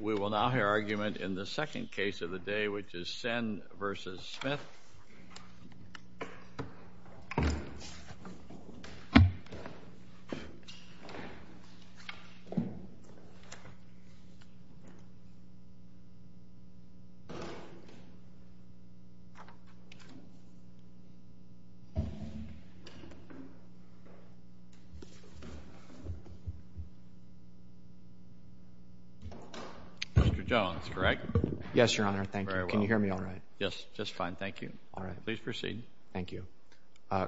We will now hear argument in the second case of the day, which is Senn v. Smith. Mr. Jones, correct? Yes, Your Honor. Thank you. Very well. Can you hear me all right? Yes. Just fine. Thank you. All right. Please proceed. Thank you.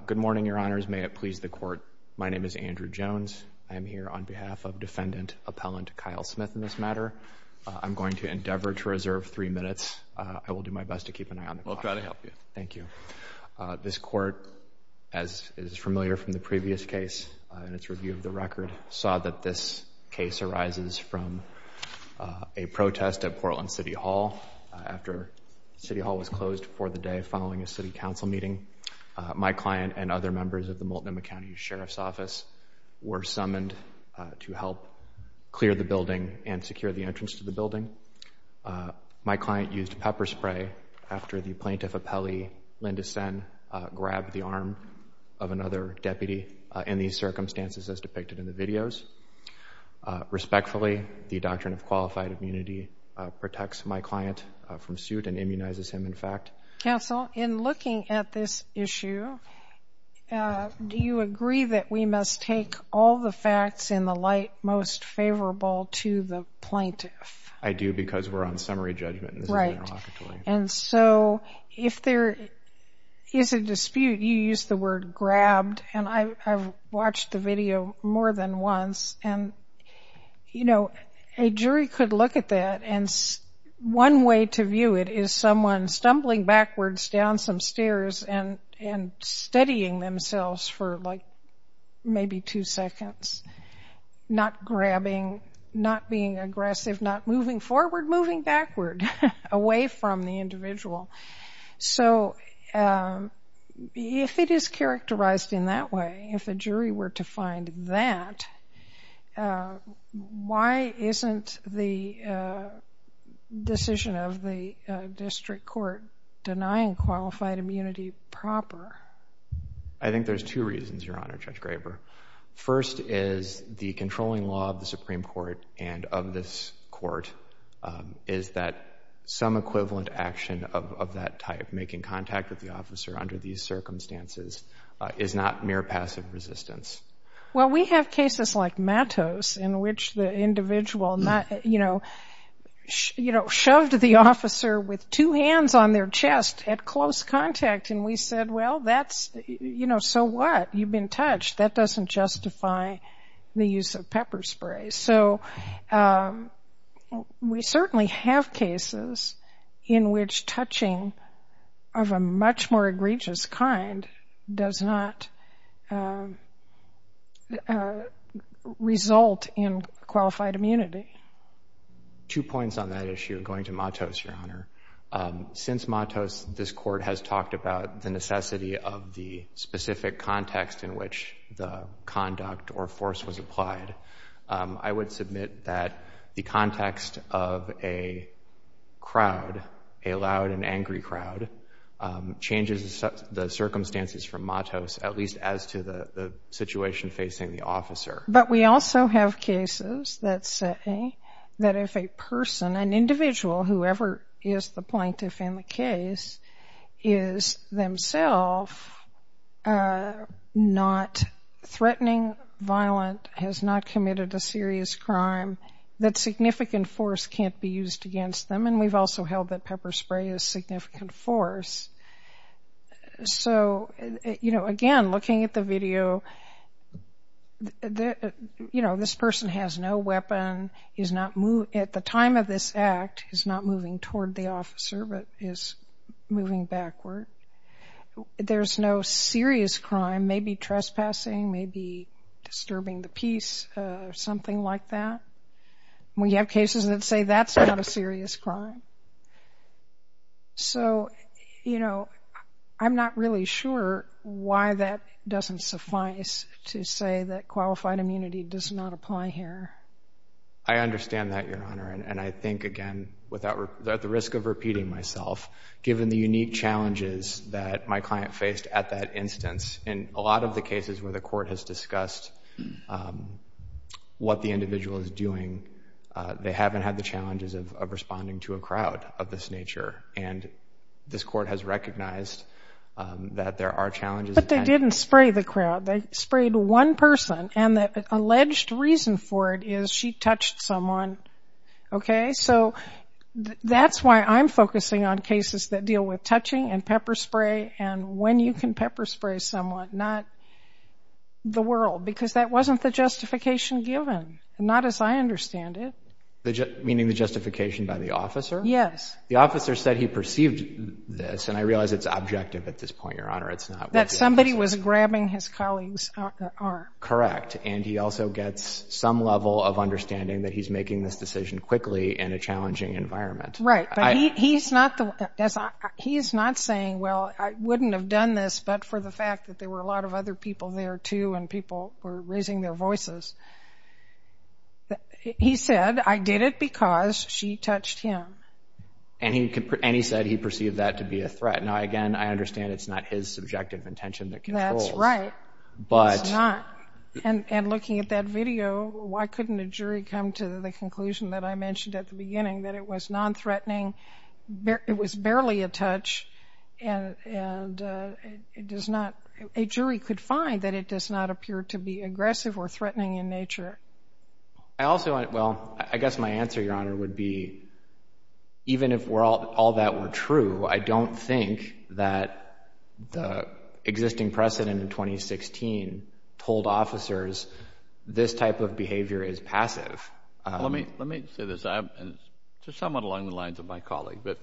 Good morning, Your Honors. May it please the Court, my name is Andrew Jones. I am here on behalf of Defendant Appellant Kyle Smith in this matter. I'm going to endeavor to reserve three minutes. I will do my best to keep an eye on the clock. We'll try to help you. Thank you. This Court, as is familiar from the previous case in its review of the record, saw that this case arises from a protest at Portland City Hall after City Hall was closed for the day following a City Council meeting. My client and other members of the Multnomah County Sheriff's Office were summoned to help clear the building and secure the entrance to the building. My client used pepper spray after the Plaintiff Appellee, Linda Senn, grabbed the arm of another in these circumstances as depicted in the videos. Respectfully, the doctrine of qualified immunity protects my client from suit and immunizes him, in fact. Counsel, in looking at this issue, do you agree that we must take all the facts in the light most favorable to the Plaintiff? I do because we're on summary judgment and this is interlocutory. And so, if there is a dispute, you use the word grabbed and I've watched the video more than once and, you know, a jury could look at that and one way to view it is someone stumbling backwards down some stairs and steadying themselves for like maybe two seconds, not the individual. So if it is characterized in that way, if a jury were to find that, why isn't the decision of the district court denying qualified immunity proper? I think there's two reasons, Your Honor, Judge Graber. First is the controlling law of the Supreme Court and of this Court is that some equivalent action of that type, making contact with the officer under these circumstances, is not mere passive resistance. Well, we have cases like Matos in which the individual, you know, shoved the officer with two hands on their chest at close contact and we said, well, that's, you know, so what? You've been touched. That doesn't justify the use of pepper spray. So we certainly have cases in which touching of a much more egregious kind does not result in qualified immunity. Two points on that issue, going to Matos, Your Honor. Since Matos, this Court has talked about the necessity of the specific context in which the conduct or force was applied, I would submit that the context of a crowd, a loud and angry crowd, changes the circumstances from Matos, at least as to the situation facing the officer. But we also have cases that say that if a person, an individual, whoever is the plaintiff in the case, is themself not threatening, violent, has not committed a serious crime, that significant force can't be used against them. And we've also held that pepper spray is significant force. So you know, again, looking at the video, you know, this person has no weapon, is not moving toward the officer, but is moving backward. There's no serious crime, maybe trespassing, maybe disturbing the peace, something like that. We have cases that say that's not a serious crime. So you know, I'm not really sure why that doesn't suffice to say that qualified immunity does not apply here. I understand that, Your Honor. And I think, again, without the risk of repeating myself, given the unique challenges that my client faced at that instance, in a lot of the cases where the court has discussed what the individual is doing, they haven't had the challenges of responding to a crowd of this nature. And this court has recognized that there are challenges. But they didn't spray the crowd. They sprayed one person. And the alleged reason for it is she touched someone. Okay, so that's why I'm focusing on cases that deal with touching and pepper spray and when you can pepper spray someone, not the world. Because that wasn't the justification given, not as I understand it. Meaning the justification by the officer? Yes. The officer said he perceived this, and I realize it's objective at this point, Your Honor. That somebody was grabbing his colleague's arm. Correct. And he also gets some level of understanding that he's making this decision quickly in a challenging environment. Right. But he's not saying, well, I wouldn't have done this but for the fact that there were a lot of other people there, too, and people were raising their voices. He said, I did it because she touched him. And he said he perceived that to be a threat. Now, again, I understand it's not his subjective intention that controls. That's right. It's not. And looking at that video, why couldn't a jury come to the conclusion that I mentioned at the beginning that it was non-threatening, it was barely a touch, and a jury could find that it does not appear to be aggressive or threatening in nature? I also, well, I guess my answer, Your Honor, would be even if all that were true, I don't think that the existing precedent in 2016 told officers this type of behavior is passive. Well, let me say this, just somewhat along the lines of my colleague, but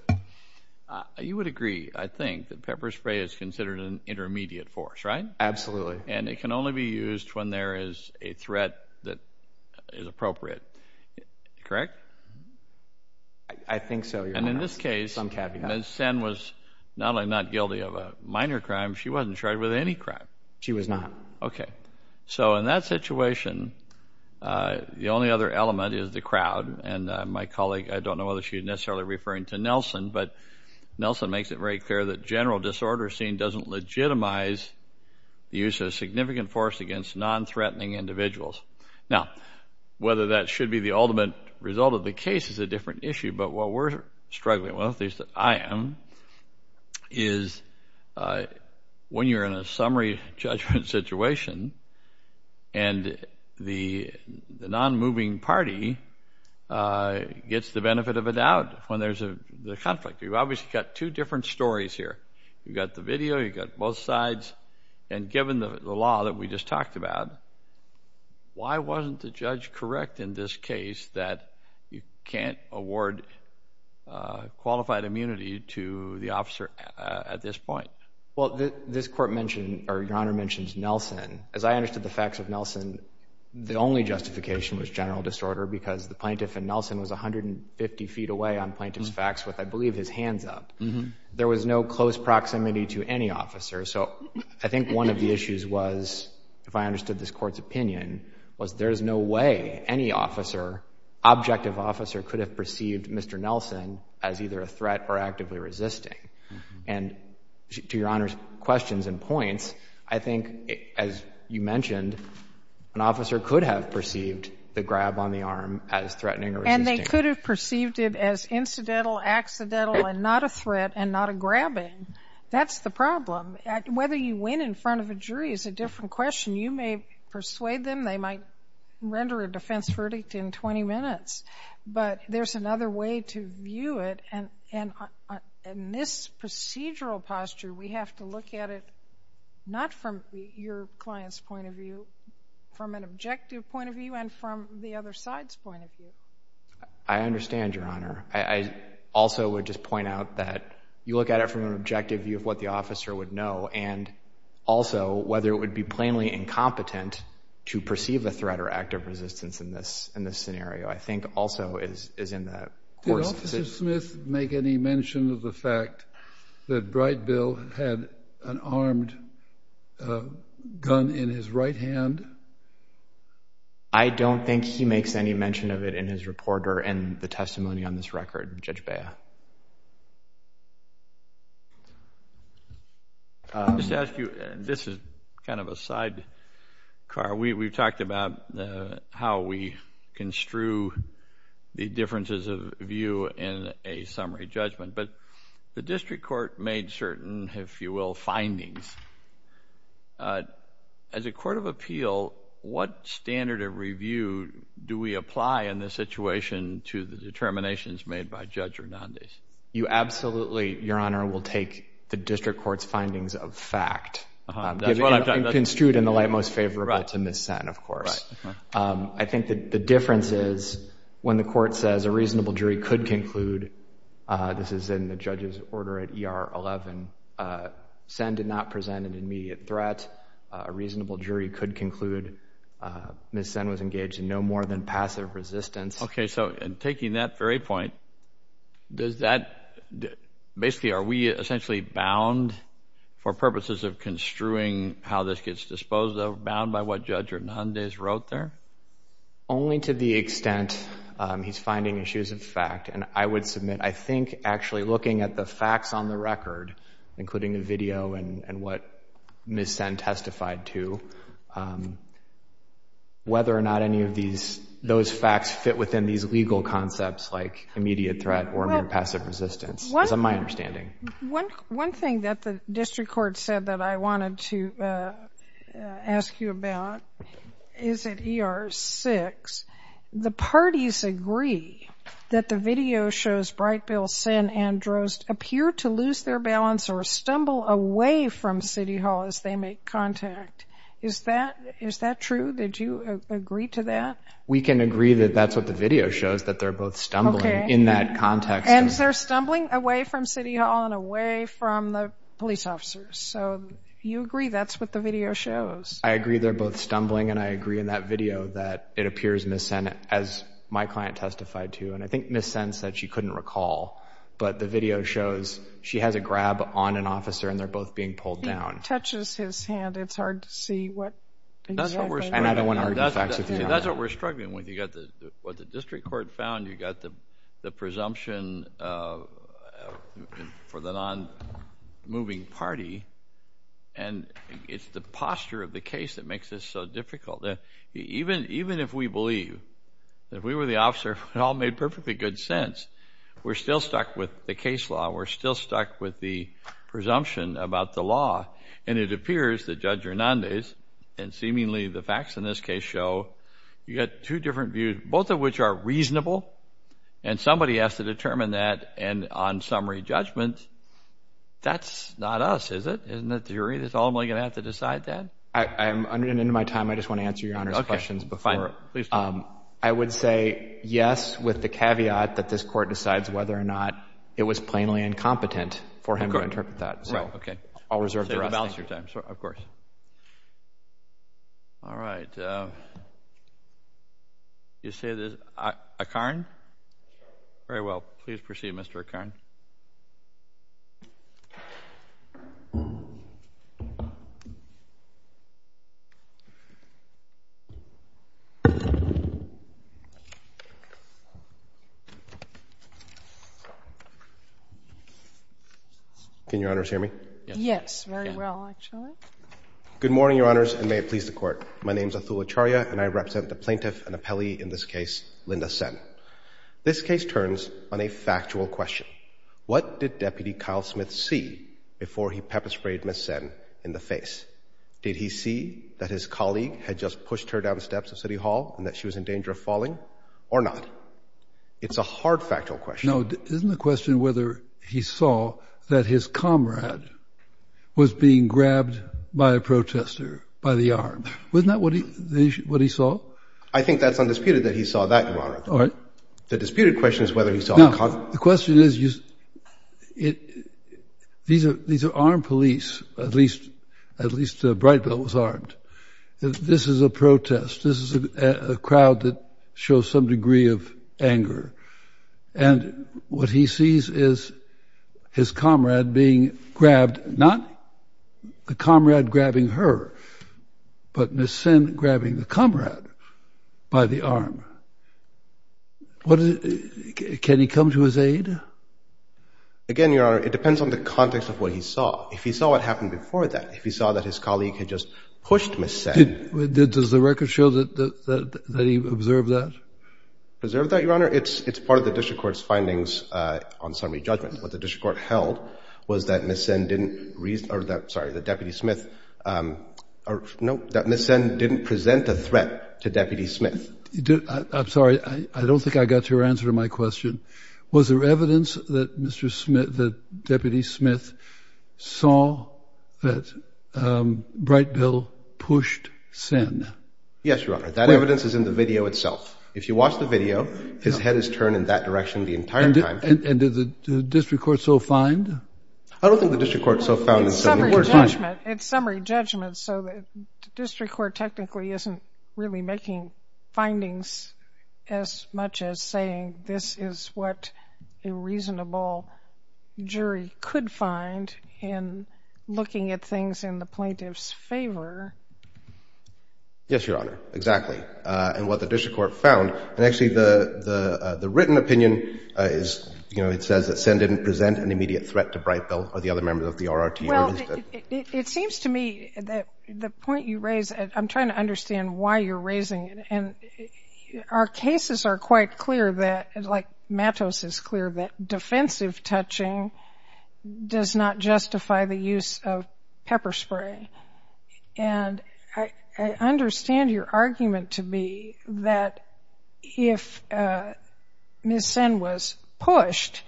you would agree, I think, that pepper spray is considered an intermediate force, right? Absolutely. And it can only be used when there is a threat that is appropriate, correct? I think so, Your Honor. And in this case, Ms. Sen was not only not guilty of a minor crime, she wasn't charged with any crime. She was not. Okay. So in that situation, the only other element is the crowd. And my colleague, I don't know whether she's necessarily referring to Nelson, but Nelson makes it very clear that general disorder seen doesn't legitimize the use of significant force against non-threatening individuals. Now, whether that should be the ultimate result of the case is a different issue, but what we're struggling with, at least I am, is when you're in a summary judgment situation and the non-moving party gets the benefit of a doubt when there's a conflict. You've obviously got two different stories here. You've got the video, you've got both sides, and given the law that we just talked about, why wasn't the judge correct in this case that you can't award qualified immunity to the officer at this point? Well, this Court mentioned, or Your Honor mentioned Nelson. As I understood the facts of Nelson, the only justification was general disorder because the plaintiff in Nelson was 150 feet away on plaintiff's facts with, I believe, his hands up. There was no close proximity to any officer. So I think one of the issues was, if I understood this Court's opinion, was there is no way any officer, objective officer, could have perceived Mr. Nelson as either a threat or actively resisting. And to Your Honor's questions and points, I think, as you mentioned, an officer could have perceived the grab on the arm as threatening or resisting. And they could have perceived it as incidental, accidental, and not a threat, and not a grabbing. That's the problem. Whether you win in front of a jury is a different question. You may persuade them they might render a defense verdict in 20 minutes. But there's another way to view it, and in this procedural posture, we have to look at it not from your client's point of view, from an objective point of view, and from the other side's point of view. I understand, Your Honor. I also would just point out that you look at it from an objective view of what the officer would know. And also, whether it would be plainly incompetent to perceive a threat or active resistance in this scenario, I think, also is in the Court's position. Did Officer Smith make any mention of the fact that Bright Bill had an armed gun in his right hand? I don't think he makes any mention of it in his report or in the testimony on this record, Judge Bea. I'll just ask you, and this is kind of a sidecar, we've talked about how we construe the differences of view in a summary judgment, but the District Court made certain, if you will, findings. As a court of appeal, what standard of review do we apply in this situation to the determinations made by Judge Hernandez? You absolutely, Your Honor, will take the District Court's findings of fact, and construed in the light most favorable to Ms. Senn, of course. I think that the difference is, when the Court says a reasonable jury could conclude, this is in the judge's order at ER 11, Senn did not present an immediate threat, a reasonable jury could conclude Ms. Senn was engaged in no more than passive resistance. Okay. So, in taking that very point, does that, basically, are we essentially bound for purposes of construing how this gets disposed of, bound by what Judge Hernandez wrote there? Only to the extent he's finding issues of fact, and I would submit, I think, actually looking at the facts on the record, including the video and what Ms. Senn testified to, whether or not any of those facts fit within these legal concepts, like immediate threat or mere passive resistance, is my understanding. One thing that the District Court said that I wanted to ask you about is at ER 6, the parties agree that the video shows Breitbill, Senn, and Drost appear to lose their balance or stumble away from City Hall as they make contact. Is that true? Did you agree to that? We can agree that that's what the video shows, that they're both stumbling in that context. And they're stumbling away from City Hall and away from the police officers. So, you agree that's what the video shows? I agree they're both stumbling, and I agree in that video that it appears Ms. Senn, as my client testified to, and I think Ms. Senn said she couldn't recall, but the video shows she has a grab on an officer, and they're both being pulled down. It touches his hand. It's hard to see what exactly. And I don't want to argue facts with you. That's what we're struggling with. You've got what the district court found, you've got the presumption for the non-moving party, and it's the posture of the case that makes this so difficult. Even if we believe, if we were the officer, it all made perfectly good sense, we're still stuck with the case law, we're still stuck with the presumption about the law. And it appears that Judge Hernandez, and seemingly the facts in this case show, you've got two different views, both of which are reasonable, and somebody has to determine that, and on summary judgment, that's not us, is it? Isn't it the jury that's ultimately going to have to decide that? I'm running into my time. I just want to answer Your Honor's questions before. I would say yes with the caveat that this Court decides whether or not it was plainly incompetent for him to interpret that. So, I'll reserve the rest of your time, of course. All right. You say this, Akarn? Very well, please proceed, Mr. Akarn. Can Your Honors hear me? Yes. Very well, actually. Good morning, Your Honors, and may it please the Court. My name is Atul Acharya, and I represent the plaintiff and appellee in this case, Linda Senn. This case turns on a factual question. What did Deputy Kyle Smith see before he pepper-sprayed Ms. Senn in the face? Did he see that his colleague had just pushed her down the steps of City Hall and that she was in danger of falling, or not? It's a hard factual question. No, isn't the question whether he saw that his comrade was being grabbed by a protester by the armed? Wasn't that what he saw? I think that's undisputed that he saw that, Your Honor. All right. The disputed question is whether he saw a comrade. Now, the question is, these are armed police, at least Brightville was armed. This is a crowd that shows some degree of anger. And what he sees is his comrade being grabbed, not the comrade grabbing her, but Ms. Senn grabbing the comrade by the arm. Can he come to his aid? Again, Your Honor, it depends on the context of what he saw. If he saw what happened before that, if he saw that his colleague had just pushed Ms. Senn. Does the record show that he observed that? Preserve that, Your Honor? It's part of the district court's findings on summary judgment. What the district court held was that Ms. Senn didn't reason, or that, sorry, that Deputy Smith, or no, that Ms. Senn didn't present a threat to Deputy Smith. I'm sorry, I don't think I got your answer to my question. Was there evidence that Mr. Smith, that Deputy Smith saw that Brightville pushed Senn? Yes, Your Honor. That evidence is in the video itself. If you watch the video, his head is turned in that direction the entire time. And did the district court so find? I don't think the district court so found. It's summary judgment, so the district court technically isn't really making findings as much as saying this is what a reasonable jury could find in looking at things in the plaintiff's favor. Yes, Your Honor, exactly. And what the district court found, and actually the written opinion is, you know, it says that Senn didn't present an immediate threat to Brightville or the other members of the RRT. Well, it seems to me that the point you raise, I'm trying to understand why you're raising it. And our cases are quite clear that, like Matos is clear, that defensive touching does not justify the use of pepper spray. And I understand your argument to be that if Ms. Senn was pushed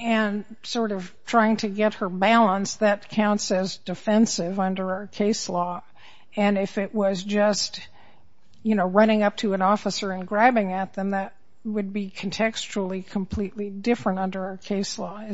and sort of trying to get her balance, that counts as defensive under our case law. And if it was just, you know, running up to an officer and grabbing at them, that would be contextually completely different under our case law.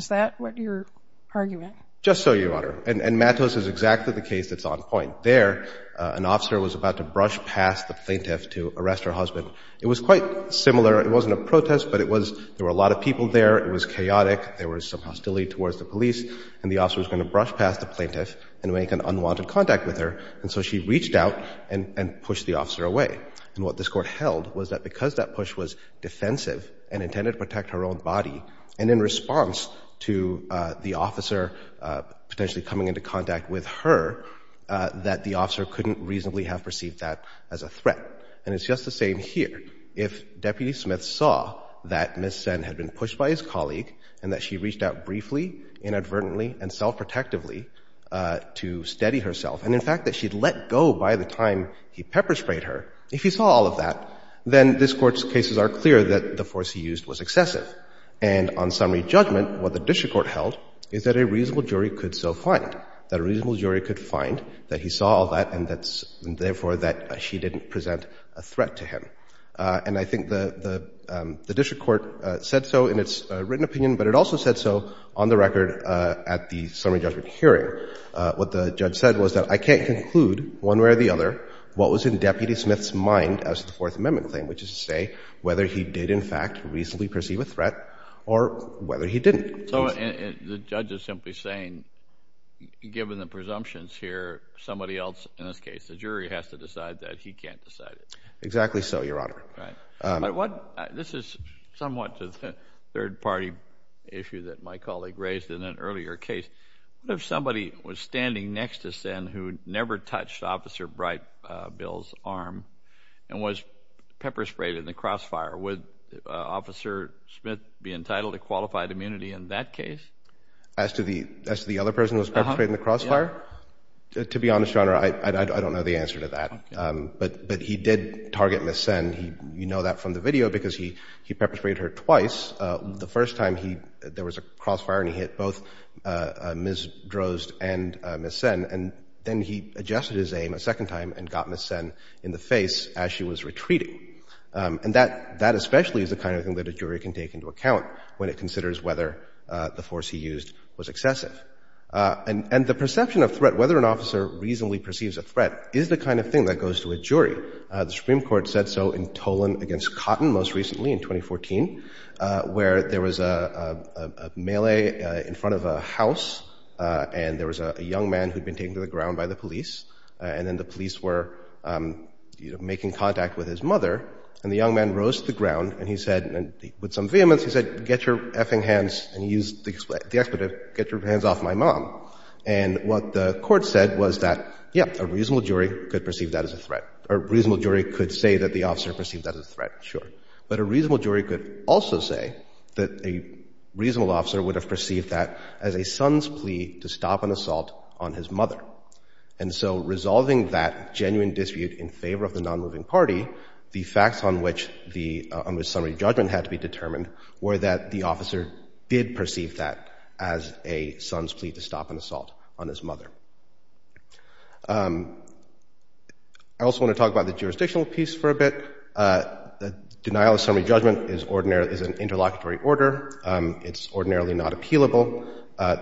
Just so, Your Honor. And Matos is exactly the case that's on point. There, an officer was about to brush past the plaintiff to arrest her husband. It was quite similar. It wasn't a protest, but it was there were a lot of people there. It was chaotic. There was some hostility towards the police. And the officer was going to brush past the plaintiff and make an unwanted contact with her. And so she reached out and pushed the officer away. And what this Court held was that because that push was defensive and intended to protect her own body, and in response to the officer potentially coming into contact with her, that the officer couldn't reasonably have perceived that as a threat. And it's just the same here. If Deputy Smith saw that Ms. Senn had been pushed by his colleague and that she reached out briefly, inadvertently, and self-protectively to steady herself, and in fact that she had let go by the time he pepper sprayed her, if he saw all of that, then this force he used was excessive. And on summary judgment, what the district court held is that a reasonable jury could so find, that a reasonable jury could find that he saw all that and therefore that she didn't present a threat to him. And I think the district court said so in its written opinion, but it also said so on the record at the summary judgment hearing. What the judge said was that I can't conclude one way or the other what was in Deputy Smith's mind as to the Fourth Amendment claim, which is to say whether he did in fact reasonably perceive a threat or whether he didn't. So the judge is simply saying, given the presumptions here, somebody else, in this case the jury, has to decide that he can't decide it. Exactly so, Your Honor. Right. This is somewhat to the third-party issue that my colleague raised in an earlier case. What if somebody was standing next to Sen who never touched Officer Brightbill's arm and was pepper-sprayed in the crossfire? Would Officer Smith be entitled to qualified immunity in that case? As to the other person who was pepper-sprayed in the crossfire? Yeah. To be honest, Your Honor, I don't know the answer to that. Okay. But he did target Ms. Sen. You know that from the video because he pepper-sprayed her twice. The first time there was a crossfire and he hit both Ms. Drozd and Ms. Sen. And then he adjusted his aim a second time and got Ms. Sen in the face as she was retreating. And that especially is the kind of thing that a jury can take into account when it considers whether the force he used was excessive. And the perception of threat, whether an officer reasonably perceives a threat, is the kind of thing that goes to a jury. The Supreme Court said so in Tolan v. Cotton most recently in 2014 where there was a melee in front of a house and there was a young man who had been taken to the ground by the police. And then the police were making contact with his mother. And the young man rose to the ground and he said, with some vehemence, he said, get your effing hands, and he used the expletive, get your hands off my mom. And what the court said was that, yeah, a reasonable jury could perceive that as a threat. A reasonable jury could say that the officer perceived that as a threat, sure. But a reasonable jury could also say that a reasonable officer would have perceived that as a son's plea to stop an assault on his mother. And so resolving that genuine dispute in favor of the nonmoving party, the facts on which the summary judgment had to be determined were that the officer did perceive that as a son's plea to stop an assault on his mother. I also want to talk about the jurisdictional piece for a bit. Denial of summary judgment is an interlocutory order. It's ordinarily not appealable.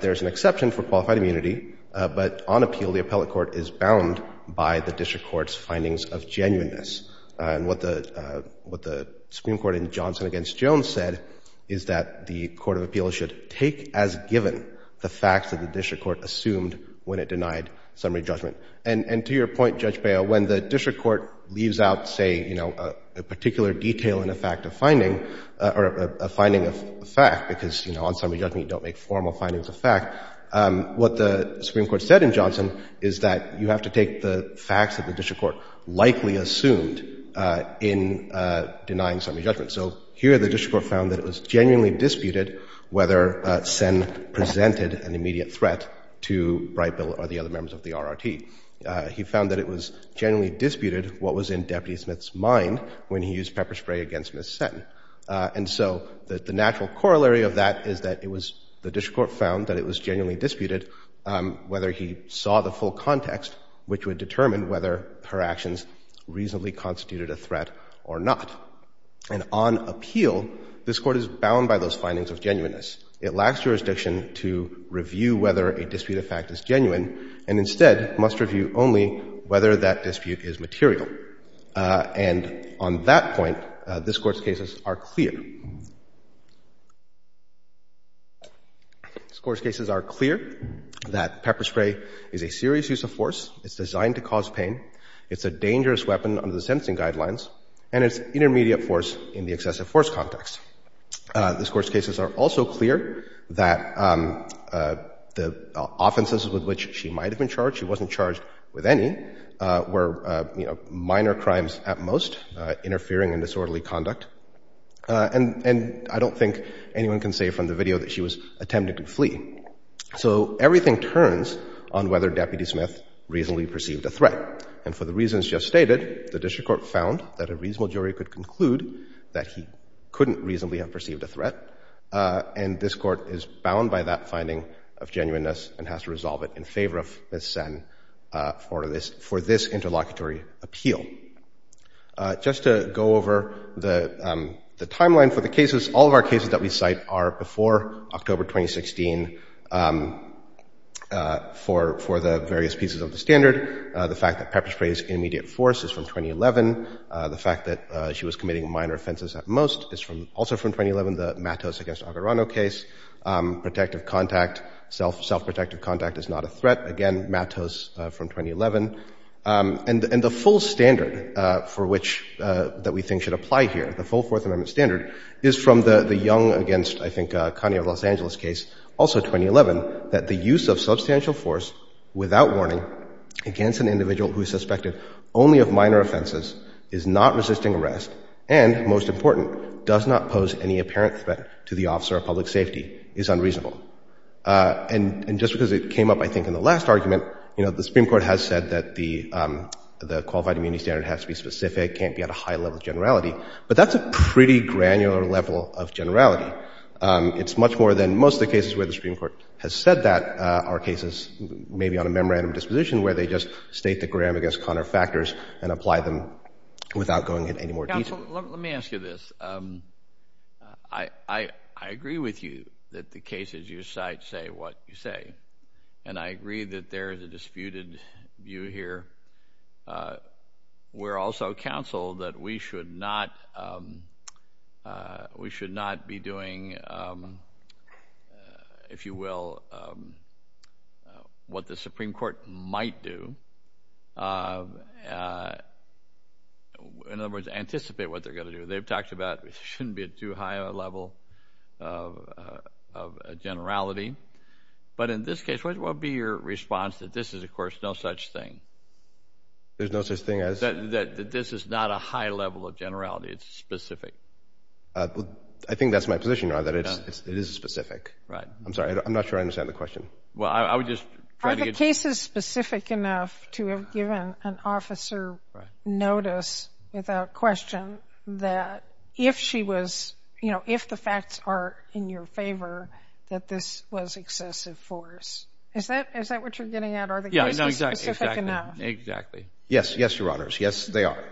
There's an exception for qualified immunity, but on appeal, the appellate court is bound by the district court's findings of genuineness. And what the Supreme Court in Johnson v. Jones said is that the court of appeals should take as given the facts that the district court assumed when it denied summary judgment. And to your point, Judge Bail, when the district court leaves out, say, you know, a particular detail in a fact of finding or a finding of fact, because, you know, on summary judgment you don't make formal findings of fact, what the Supreme Court said in Johnson is that you have to take the facts that the district court likely assumed in denying summary judgment. So here the district court found that it was genuinely disputed whether Sen presented an immediate threat to Bright Bill or the other members of the RRT. He found that it was genuinely disputed what was in Deputy Smith's mind when he used pepper spray against Ms. Sen. And so the natural corollary of that is that it was the district court found that it was genuinely disputed whether he saw the full context which would determine whether her actions reasonably constituted a threat or not. And on appeal, this Court is bound by those findings of genuineness. It lacks jurisdiction to review whether a dispute of fact is genuine and instead must review only whether that dispute is material. And on that point, this Court's cases are clear. This Court's cases are clear that pepper spray is a serious use of force. It's designed to cause pain. It's a dangerous weapon under the sentencing guidelines. And it's intermediate force in the excessive force context. This Court's cases are also clear that the offenses with which she might have been charged, she wasn't charged with any, were minor crimes at most, interfering in disorderly conduct. And I don't think anyone can say from the video that she was attempting to flee. And for the reasons just stated, the district court found that a reasonable jury could conclude that he couldn't reasonably have perceived a threat. And this Court is bound by that finding of genuineness and has to resolve it in favor of Ms. Sen for this interlocutory appeal. Just to go over the timeline for the cases, all of our cases that we cite are before October 2016 for the various pieces of the standard. The fact that pepper spray is intermediate force is from 2011. The fact that she was committing minor offenses at most is also from 2011, the Matos v. Aguirrano case. Protective contact, self-protective contact is not a threat. Again, Matos from 2011. And the full standard for which that we think should apply here, the full Fourth Amendment standard, is from the Young v. I think Connie v. Los Angeles case, also from 2011, that the use of substantial force without warning against an individual who is suspected only of minor offenses is not resisting arrest and, most important, does not pose any apparent threat to the officer of public safety is unreasonable. And just because it came up, I think, in the last argument, the Supreme Court has said that the qualified immunity standard has to be specific, can't be at a high level of generality. But that's a pretty granular level of generality. It's much more than most of the cases where the Supreme Court has said that are cases maybe on a memorandum disposition where they just state the Graham v. Conner factors and apply them without going into any more detail. Counsel, let me ask you this. I agree with you that the cases you cite say what you say, and I agree that there is a disputed view here. We're also counseled that we should not be doing, if you will, what the Supreme Court might do, in other words, anticipate what they're going to do. They've talked about it shouldn't be too high a level of generality. But in this case, what would be your response that this is, of course, no such thing? There's no such thing as? That this is not a high level of generality. It's specific. I think that's my position, Ron, that it is specific. Right. I'm sorry. I'm not sure I understand the question. Well, I would just try to get… Are the cases specific enough to have given an officer notice without question that if she was, you know, if the facts are in your favor, that this was excessive force? Is that what you're getting at? Are the cases specific enough? Yeah, exactly. Exactly. Yes. Yes, Your Honors. Yes, they are.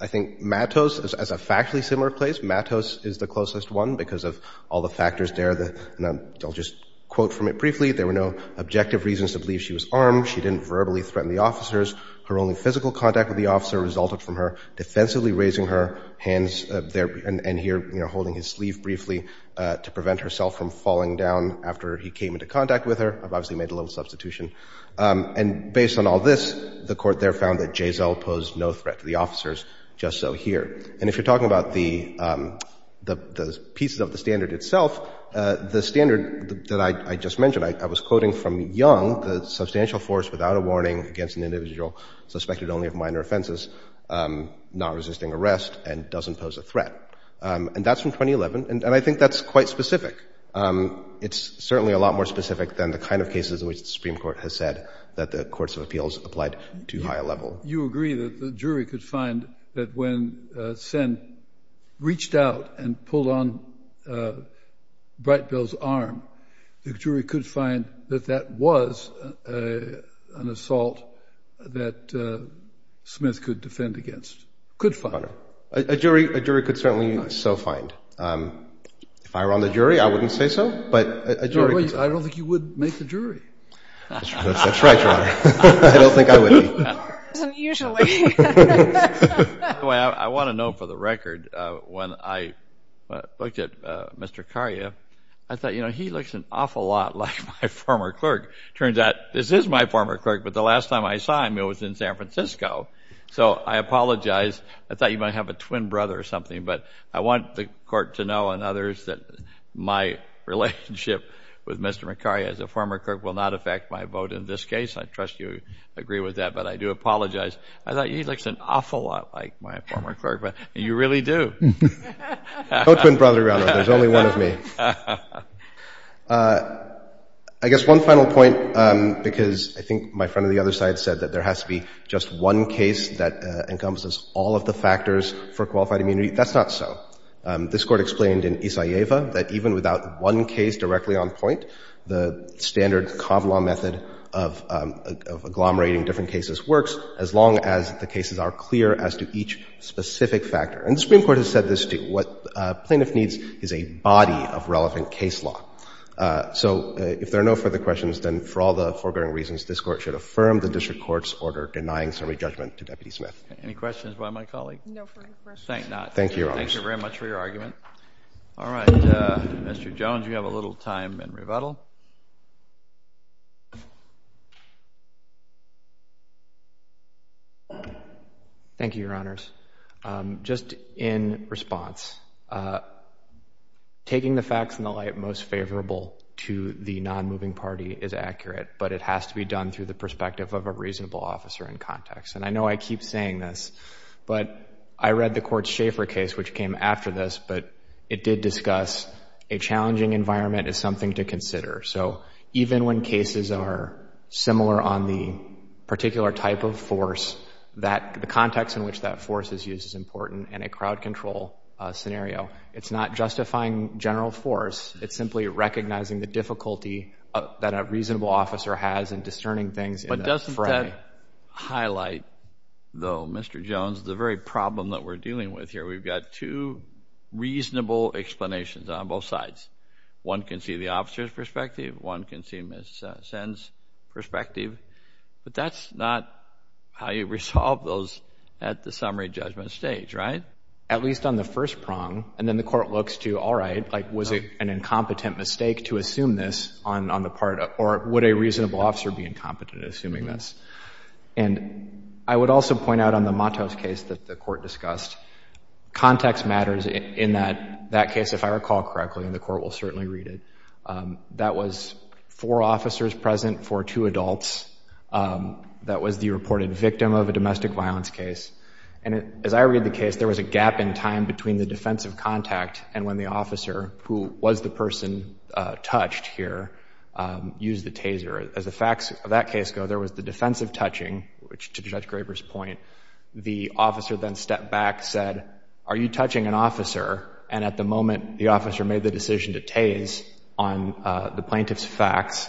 I think Matos, as a factually similar place, Matos is the closest one because of all the factors there. And I'll just quote from it briefly. There were no objective reasons to believe she was armed. She didn't verbally threaten the officers. Her only physical contact with the officer resulted from her defensively raising her hands there and here, you know, holding his sleeve briefly to prevent herself from falling down after he came into contact with her. I've obviously made a little substitution. And based on all this, the Court there found that Jayzell posed no threat to the officers, just so here. And if you're talking about the pieces of the standard itself, the standard that I just mentioned, I was quoting from Young, the substantial force without a warning against an individual suspected only of minor offenses, not resisting arrest, and doesn't pose a threat. And that's from 2011. And I think that's quite specific. It's certainly a lot more specific than the kind of cases in which the Supreme Court has said that the courts of appeals applied to higher level. You agree that the jury could find that when Sen reached out and pulled on Whitebell's arm, the jury could find that that was an assault that Smith could defend against, could find. Your Honor, a jury could certainly so find. If I were on the jury, I wouldn't say so, but a jury could. Your Honor, I don't think you would make the jury. That's right, Your Honor. I don't think I would. Usually. By the way, I want to note for the record, when I looked at Mr. Macaria, I thought, you know, he looks an awful lot like my former clerk. It turns out this is my former clerk, but the last time I saw him, he was in San Francisco. So I apologize. I thought you might have a twin brother or something, but I want the court to know and others that my relationship with Mr. Macaria as a former clerk will not affect my vote in this case. I trust you agree with that, but I do apologize. I thought he looks an awful lot like my former clerk, but you really do. No twin brother, Your Honor. There's only one of me. I guess one final point, because I think my friend on the other side said that there has to be just one case that encompasses all of the factors for qualified immunity. That's not so. This Court explained in Isaeva that even without one case directly on point, the cases are clear as to each specific factor. And the Supreme Court has said this, too. What a plaintiff needs is a body of relevant case law. So if there are no further questions, then for all the foregoing reasons, this Court should affirm the district court's order denying summary judgment to Deputy Smith. Any questions by my colleague? No further questions. Thank you, Your Honor. Thank you very much for your argument. All right. Mr. Jones, you have a little time in rebuttal. Thank you, Your Honors. Just in response, taking the facts in the light most favorable to the non-moving party is accurate, but it has to be done through the perspective of a reasonable officer in context. And I know I keep saying this, but I read the Court's Schaffer case, which came after this, but it did discuss a challenging environment is something to consider. So even when cases are similar on the particular type of force, the context in which that force is used is important in a crowd control scenario. It's not justifying general force. It's simply recognizing the difficulty that a reasonable officer has in discerning things in a fray. But doesn't that highlight, though, Mr. Jones, the very problem that we're dealing with here? We've got two reasonable explanations on both sides. One can see the officer's perspective. One can see Ms. Sen's perspective. But that's not how you resolve those at the summary judgment stage, right? At least on the first prong. And then the Court looks to, all right, was it an incompetent mistake to assume this on the part of, or would a reasonable officer be incompetent in assuming this? And I would also point out on the Matos case that the Court discussed, context matters in that case. If I recall correctly, and the Court will certainly read it, that was four officers present for two adults. That was the reported victim of a domestic violence case. And as I read the case, there was a gap in time between the defensive contact and when the officer, who was the person touched here, used the taser. As the facts of that case go, there was the defensive touching, which to Judge Graber's point, the officer then stepped back, said, are you touching an officer? And at the moment the officer made the decision to tase on the plaintiff's facts,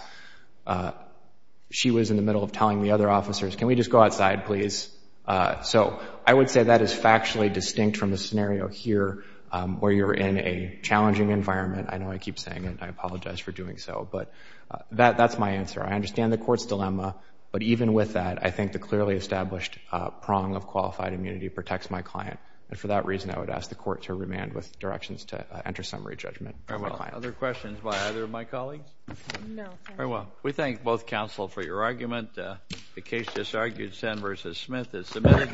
she was in the middle of telling the other officers, can we just go outside, please? So I would say that is factually distinct from the scenario here where you're in a challenging environment. I know I keep saying it. I apologize for doing so. But that's my answer. I understand the Court's dilemma. But even with that, I think the clearly established prong of qualified immunity protects my client. And for that reason, I would ask the Court to remand with directions to enter summary judgment. Very well. Other questions by either of my colleagues? No, thank you. Very well. We thank both counsel for your argument. The case disargued, Senn v. Smith, is submitted.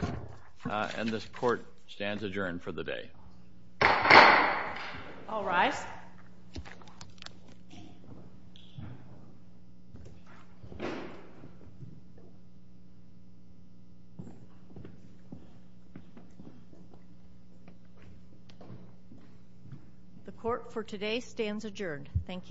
And this Court stands adjourned for the day. All rise. The Court for today stands adjourned. Thank you.